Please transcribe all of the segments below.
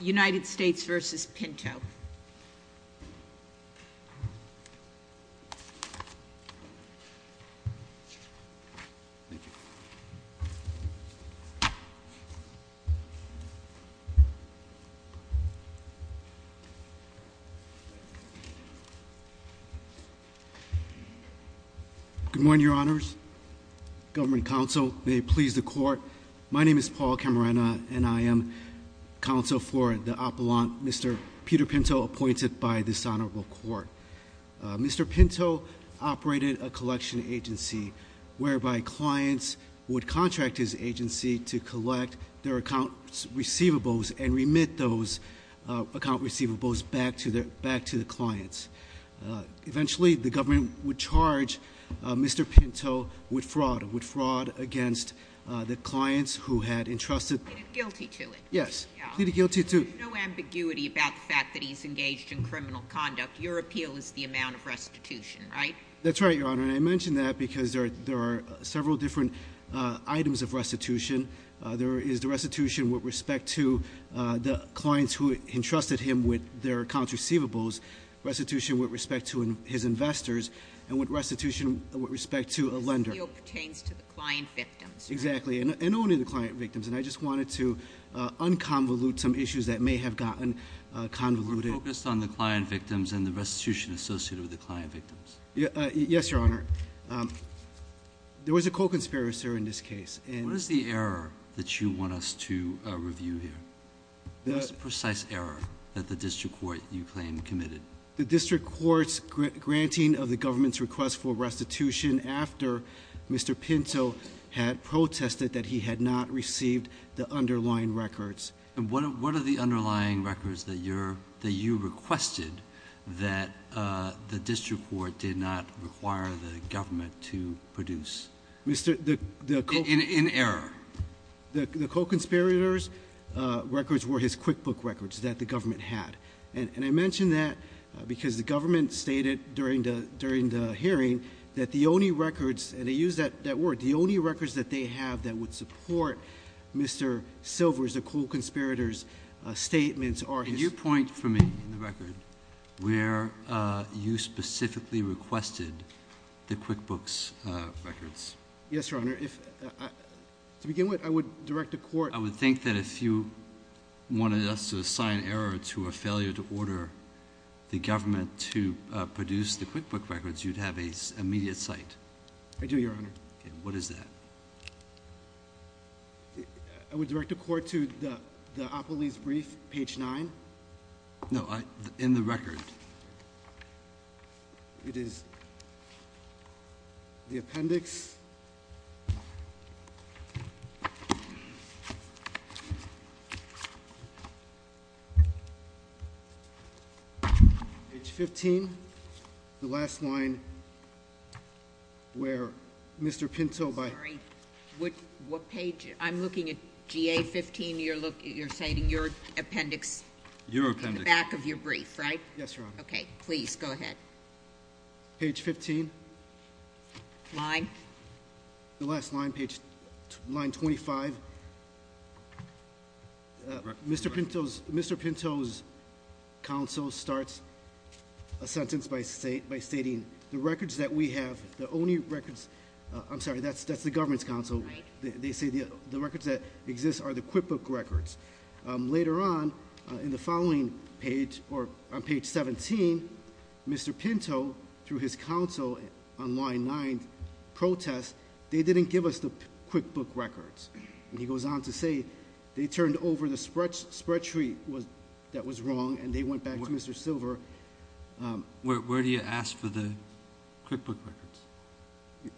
United States v. Pinto. Good morning, your honors. Government counsel, may it please the court. My name is Paul Camarena and I am counsel for the appellant, Mr. Peter Pinto, appointed by this honorable court. Mr. Pinto operated a collection agency whereby clients would contract his agency to collect their account receivables and remit those account receivables back to the clients. Eventually, the government would charge Mr. Pinto with fraud, with fraud against the clients who had entrusted. Pleaded guilty to it. Yes, pleaded guilty to. There's no ambiguity about the fact that he's engaged in criminal conduct. Your appeal is the amount of restitution, right? That's right, your honor. And I mention that because there are several different items of restitution. There is the restitution with respect to the clients who entrusted him with their accounts receivables, restitution with respect to his investors, and restitution with respect to a lender. The appeal pertains to the client victims, right? Exactly. And only the client victims. And I just wanted to unconvolute some issues that may have gotten convoluted. We're focused on the client victims and the restitution associated with the client victims. Yes, your honor. There was a co-conspirator in this case. What is the error that you want us to review here? What is the precise error that the district court, you claim, committed? The district court's granting of the government's request for restitution after Mr. Pinto had protested that he had not received the underlying records. And what are the underlying records that you requested that the district court did not require the government to produce? In error. The co-conspirator's records were his QuickBooks records that the government had. And I mention that because the government stated during the hearing that the only records, and they used that word, the only records that they have that would support Mr. Silver's, the co-conspirator's statements are his- There was a point for me in the record where you specifically requested the QuickBooks records. Yes, your honor. To begin with, I would direct the court- I would think that if you wanted us to assign error to a failure to order the government to produce the QuickBooks records, you'd have an immediate cite. I do, your honor. What is that? I would direct the court to the opolis brief, page 9. No, in the record. It is the appendix. Page 15, the last line where Mr. Pinto- I'm sorry, what page? I'm looking at GA 15, you're citing your appendix. Your appendix. In the back of your brief, right? Yes, your honor. Okay, please, go ahead. Page 15. Line? The last line, line 25. Mr. Pinto's counsel starts a sentence by stating, the records that we have, the only records- I'm sorry, that's the government's counsel. They say the records that exist are the QuickBooks records. Later on, in the following page, or on page 17, Mr. Pinto, through his counsel on line 9, protests, they didn't give us the QuickBooks records. He goes on to say, they turned over the spreadsheet that was wrong, and they went back to Mr. Silver. Where do you ask for the QuickBooks records?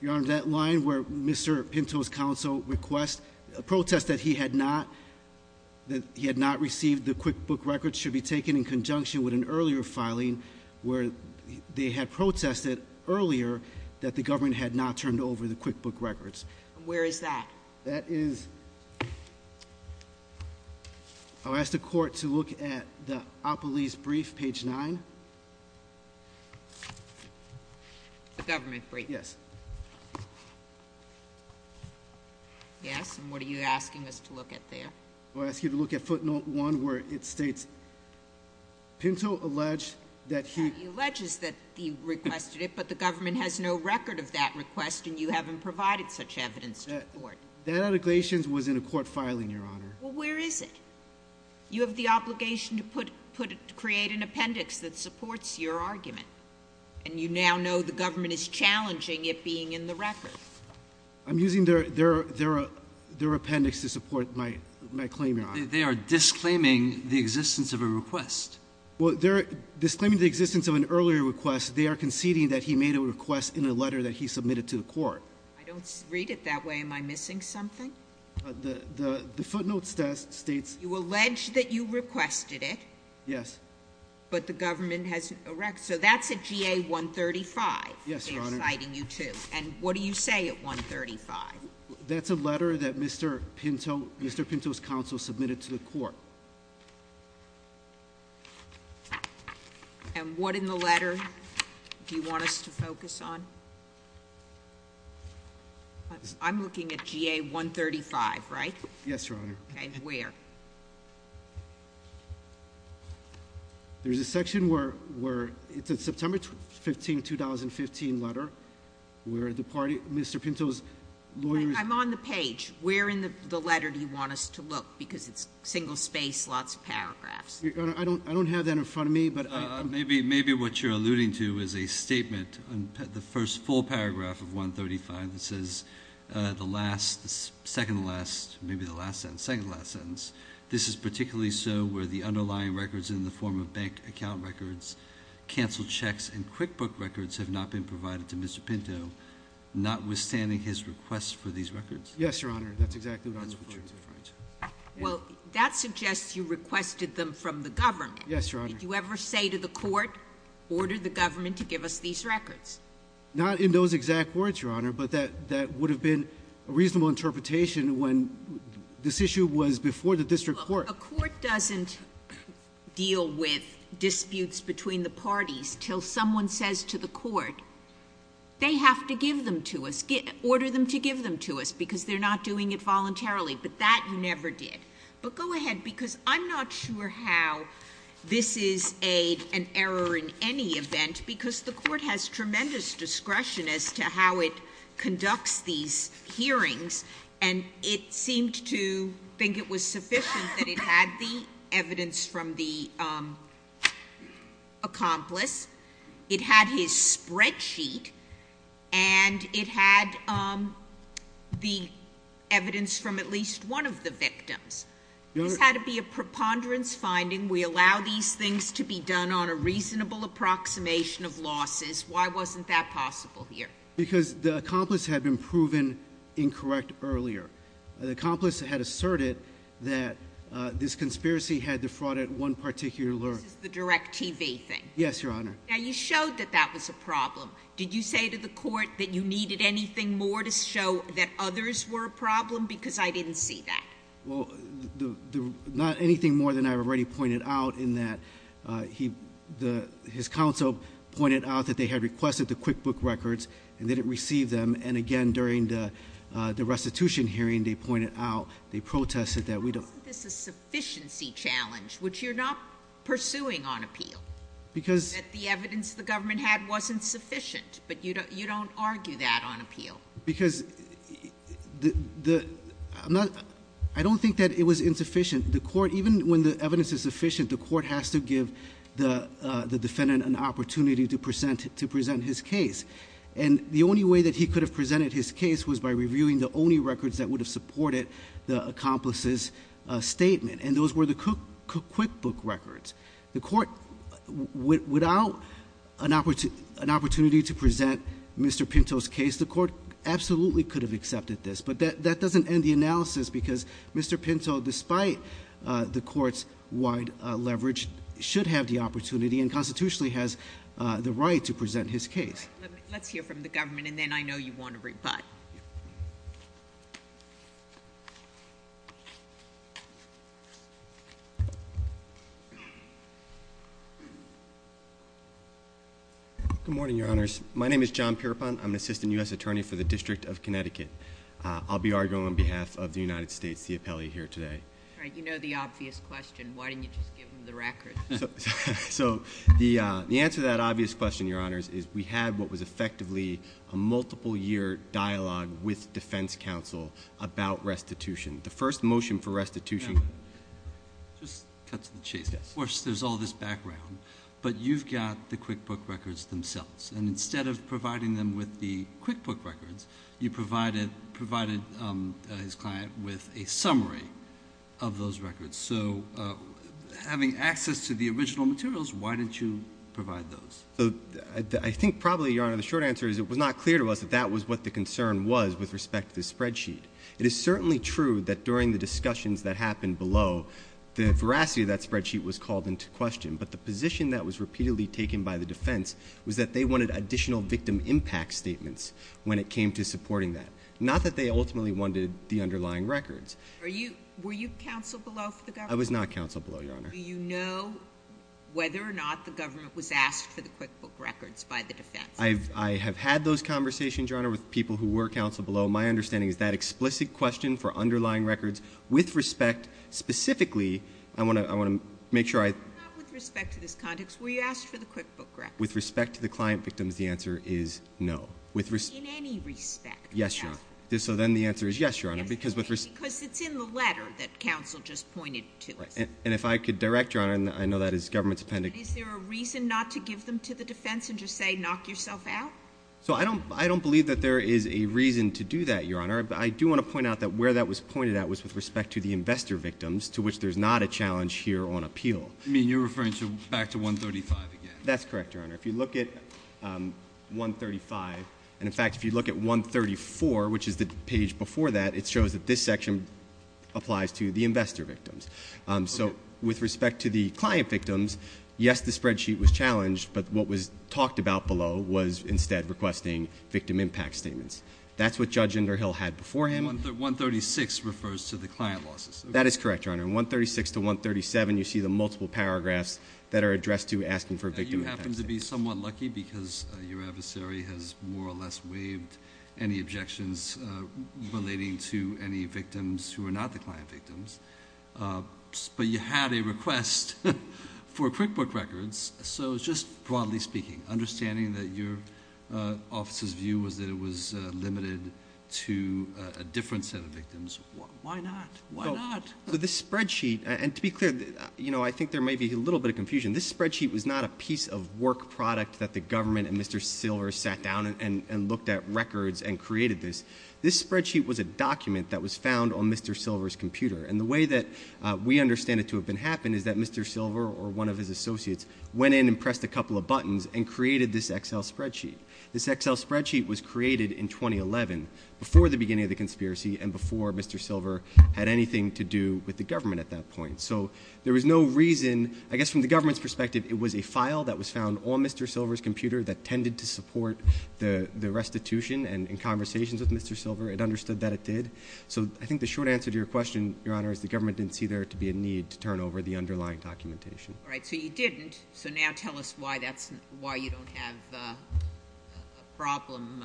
Your honor, that line where Mr. Pinto's counsel requests, protests that he had not received the QuickBooks records should be taken in conjunction with an earlier filing where they had protested earlier that the government had not turned over the QuickBooks records. Where is that? That is- I'll ask the court to look at the Opolis brief, page 9. The government brief. Yes. Yes, and what are you asking us to look at there? I'll ask you to look at footnote 1, where it states, Pinto alleged that he- That allegation was in a court filing, your honor. Well, where is it? You have the obligation to create an appendix that supports your argument, and you now know the government is challenging it being in the records. I'm using their appendix to support my claim, your honor. They are disclaiming the existence of a request. Well, they're disclaiming the existence of an earlier request. They are conceding that he made a request in a letter that he submitted to the court. I don't read it that way. Am I missing something? The footnote states- You allege that you requested it. Yes. But the government has- so that's at GA 135. Yes, your honor. They're citing you to. And what do you say at 135? That's a letter that Mr. Pinto's counsel submitted to the court. And what in the letter do you want us to focus on? I'm looking at GA 135, right? Okay, where? There's a section where it's a September 15, 2015 letter where Mr. Pinto's lawyer- I'm on the page. Where in the letter do you want us to look? Because it's single space, lots of paragraphs. Your honor, I don't have that in front of me, but I- Maybe what you're alluding to is a statement on the first full paragraph of 135 that says, the last- the second to last- maybe the last sentence- second to last sentence, this is particularly so where the underlying records in the form of bank account records, canceled checks, and QuickBook records have not been provided to Mr. Pinto, notwithstanding his request for these records. Yes, your honor. That's exactly what I was referring to. Well, that suggests you requested them from the government. Yes, your honor. Did you ever say to the court, order the government to give us these records? Not in those exact words, your honor, but that would have been a reasonable interpretation when this issue was before the district court. A court doesn't deal with disputes between the parties until someone says to the court, they have to give them to us, order them to give them to us, because they're not doing it voluntarily, but that you never did. But go ahead, because I'm not sure how this is an error in any event, because the court has tremendous discretion as to how it conducts these hearings, and it seemed to think it was sufficient that it had the evidence from the accomplice, it had his spreadsheet, and it had the evidence from at least one of the victims. This had to be a preponderance finding. We allow these things to be done on a reasonable approximation of losses. Why wasn't that possible here? Because the accomplice had been proven incorrect earlier. The accomplice had asserted that this conspiracy had defrauded one particular— This is the direct TV thing. Yes, your honor. Now, you showed that that was a problem. Did you say to the court that you needed anything more to show that others were a problem? Because I didn't see that. Well, not anything more than I already pointed out, in that his counsel pointed out that they had requested the QuickBook records and didn't receive them, and again, during the restitution hearing, they pointed out, they protested that we don't— Why wasn't this a sufficiency challenge, which you're not pursuing on appeal? Because— That the evidence the government had wasn't sufficient, but you don't argue that on appeal. Because I don't think that it was insufficient. The court, even when the evidence is sufficient, the court has to give the defendant an opportunity to present his case, and the only way that he could have presented his case was by reviewing the only records that would have supported the accomplice's statement, and those were the QuickBook records. The court, without an opportunity to present Mr. Pinto's case, the court absolutely could have accepted this, but that doesn't end the analysis because Mr. Pinto, despite the court's wide leverage, should have the opportunity and constitutionally has the right to present his case. Let's hear from the government, and then I know you want to rebut. Good morning, Your Honors. My name is John Pierpont. I'm an assistant U.S. attorney for the District of Connecticut. I'll be arguing on behalf of the United States, the appellee here today. All right. You know the obvious question. Why didn't you just give him the records? So the answer to that obvious question, Your Honors, is we had what was effectively a multiple-year dialogue with defense counsel about restitution. The first motion for restitution— Just cut to the chase. Of course, there's all this background, but you've got the QuickBook records themselves, and instead of providing them with the QuickBook records, you provided his client with a summary of those records. So having access to the original materials, why didn't you provide those? I think probably, Your Honor, the short answer is it was not clear to us that that was what the concern was with respect to the spreadsheet. It is certainly true that during the discussions that happened below, the veracity of that spreadsheet was called into question, but the position that was repeatedly taken by the defense was that they wanted additional victim impact statements when it came to supporting that, not that they ultimately wanted the underlying records. Were you counsel below for the government? I was not counsel below, Your Honor. Do you know whether or not the government was asked for the QuickBook records by the defense? I have had those conversations, Your Honor, with people who were counsel below. My understanding is that explicit question for underlying records with respect, specifically, I want to make sure I... Not with respect to this context. Were you asked for the QuickBook records? With respect to the client victims, the answer is no. In any respect? Yes, Your Honor. So then the answer is yes, Your Honor. Because it's in the letter that counsel just pointed to. And if I could direct, Your Honor, and I know that is government's appendix... Is there a reason not to give them to the defense and just say knock yourself out? So I don't believe that there is a reason to do that, Your Honor. I do want to point out that where that was pointed at was with respect to the investor victims, to which there's not a challenge here on appeal. You mean you're referring back to 135 again? That's correct, Your Honor. If you look at 135... And, in fact, if you look at 134, which is the page before that, it shows that this section applies to the investor victims. So, with respect to the client victims, yes, the spreadsheet was challenged. But what was talked about below was instead requesting victim impact statements. That's what Judge Inderhill had before him. 136 refers to the client losses. That is correct, Your Honor. In 136 to 137, you see the multiple paragraphs that are addressed to asking for victim impact statements. You happen to be somewhat lucky because your adversary has more or less waived any objections relating to any victims who are not the client victims. But you had a request for QuickBook records. So, just broadly speaking, understanding that your office's view was that it was limited to a different set of victims, why not? Why not? This spreadsheet, and to be clear, I think there may be a little bit of confusion. This spreadsheet was not a piece of work product that the government and Mr. Silver sat down and looked at records and created this. This spreadsheet was a document that was found on Mr. Silver's computer. And the way that we understand it to have happened is that Mr. Silver or one of his associates went in and pressed a couple of buttons and created this Excel spreadsheet. This Excel spreadsheet was created in 2011, before the beginning of the conspiracy and before Mr. Silver had anything to do with the government at that point. So, there was no reason, I guess from the government's perspective, it was a file that was found on Mr. Silver's computer that tended to support the restitution. And in conversations with Mr. Silver, it understood that it did. So, I think the short answer to your question, Your Honor, is the government didn't see there to be a need to turn over the underlying documentation. All right, so you didn't. So, now tell us why you don't have a problem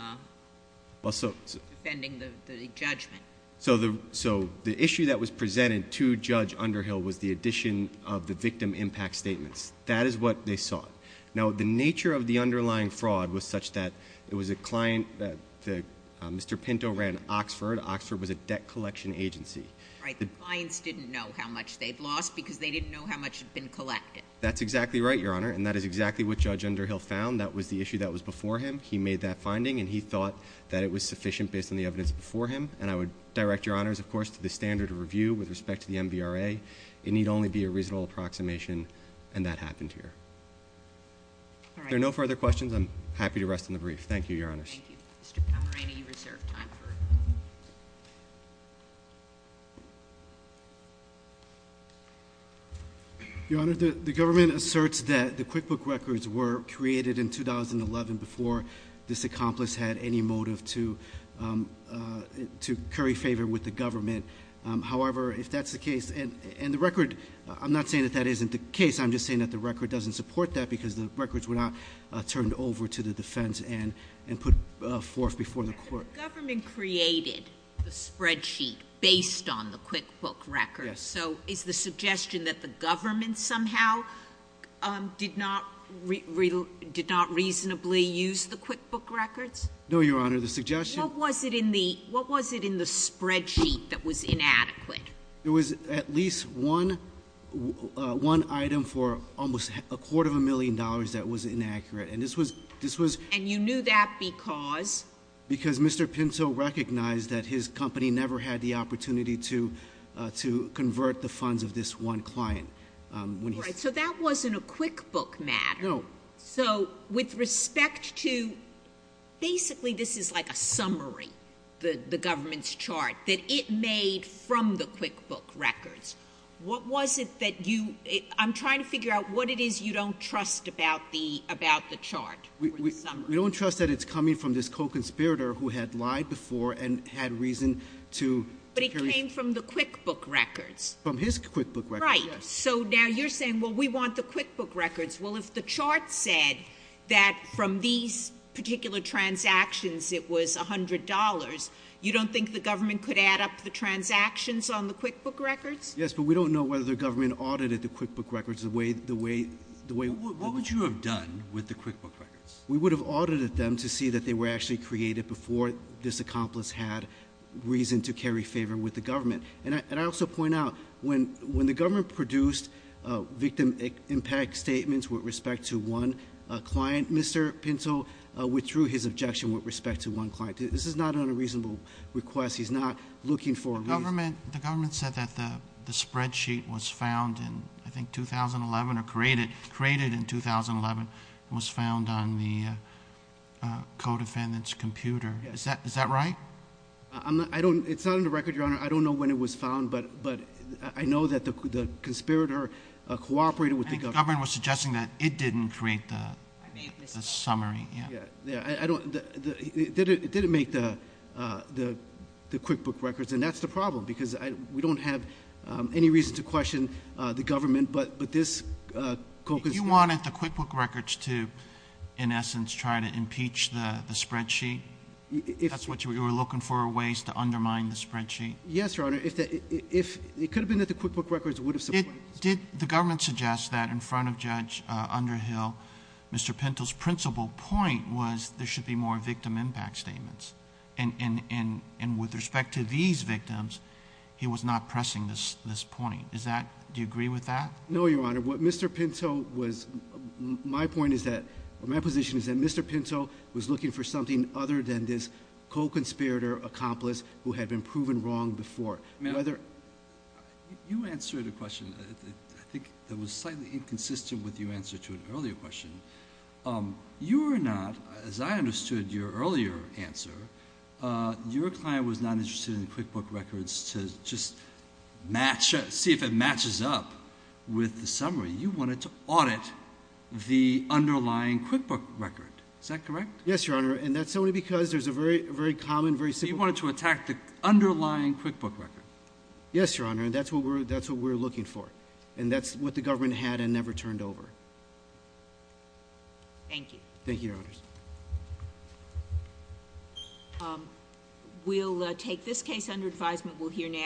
defending the judgment. So, the issue that was presented to Judge Underhill was the addition of the victim impact statements. That is what they sought. Now, the nature of the underlying fraud was such that it was a client that Mr. Pinto ran Oxford. Oxford was a debt collection agency. Right, the clients didn't know how much they'd lost because they didn't know how much had been collected. That's exactly right, Your Honor, and that is exactly what Judge Underhill found. That was the issue that was before him. He made that finding, and he thought that it was sufficient based on the evidence before him. And I would direct Your Honors, of course, to the standard of review with respect to the MVRA. It need only be a reasonable approximation, and that happened here. All right. If there are no further questions, I'm happy to rest on the brief. Thank you, Your Honors. Thank you. Mr. Camerani, you reserve time for questions. Your Honor, the government asserts that the QuickBook records were created in 2011 before this accomplice had any motive to curry favor with the government. However, if that's the case, and the record, I'm not saying that that isn't the case. I'm just saying that the record doesn't support that because the records were not turned over to the defense and put forth before the court. The government created the spreadsheet based on the QuickBook records. Yes. So is the suggestion that the government somehow did not reasonably use the QuickBook records? No, Your Honor. The suggestion— What was it in the spreadsheet that was inadequate? It was at least one item for almost a quarter of a million dollars that was inaccurate. And this was— And you knew that because? Because Mr. Pinto recognized that his company never had the opportunity to convert the funds of this one client. All right. So that wasn't a QuickBook matter. No. So with respect to—basically this is like a summary, the government's chart, that it made from the QuickBook records. What was it that you—I'm trying to figure out what it is you don't trust about the chart or the summary. We don't trust that it's coming from this co-conspirator who had lied before and had reason to— But it came from the QuickBook records. From his QuickBook records, yes. Right. So now you're saying, well, we want the QuickBook records. Well, if the chart said that from these particular transactions it was $100, you don't think the government could add up the transactions on the QuickBook records? Yes, but we don't know whether the government audited the QuickBook records the way— What would you have done with the QuickBook records? We would have audited them to see that they were actually created before this accomplice had reason to carry favor with the government. And I also point out when the government produced victim impact statements with respect to one client, Mr. Pinto withdrew his objection with respect to one client. This is not an unreasonable request. He's not looking for a reason. The government said that the spreadsheet was found in, I think, 2011 or created in 2011 and was found on the co-defendant's computer. Is that right? It's not on the record, Your Honor. I don't know when it was found, but I know that the conspirator cooperated with the government. The government was suggesting that it didn't create the summary. It didn't make the QuickBook records, and that's the problem, because we don't have any reason to question the government, but this co-conspirator— If you wanted the QuickBook records to, in essence, try to impeach the spreadsheet, that's what you were looking for, ways to undermine the spreadsheet? Yes, Your Honor. It could have been that the QuickBook records would have supported this. Did the government suggest that in front of Judge Underhill, Mr. Pinto's principal point was there should be more victim impact statements, and with respect to these victims, he was not pressing this point? Do you agree with that? No, Your Honor. Your Honor, what Mr. Pinto was—my point is that—my position is that Mr. Pinto was looking for something other than this co-conspirator accomplice who had been proven wrong before. You answered a question I think that was slightly inconsistent with your answer to an earlier question. You are not, as I understood your earlier answer, your client was not interested in the QuickBook records to just see if it matches up with the summary. You wanted to audit the underlying QuickBook record. Is that correct? Yes, Your Honor, and that's only because there's a very common, very simple— You wanted to attack the underlying QuickBook record. Yes, Your Honor, and that's what we're looking for, and that's what the government had and never turned over. Thank you. Thank you, Your Honors. We'll take this case under advisement. We'll hear now—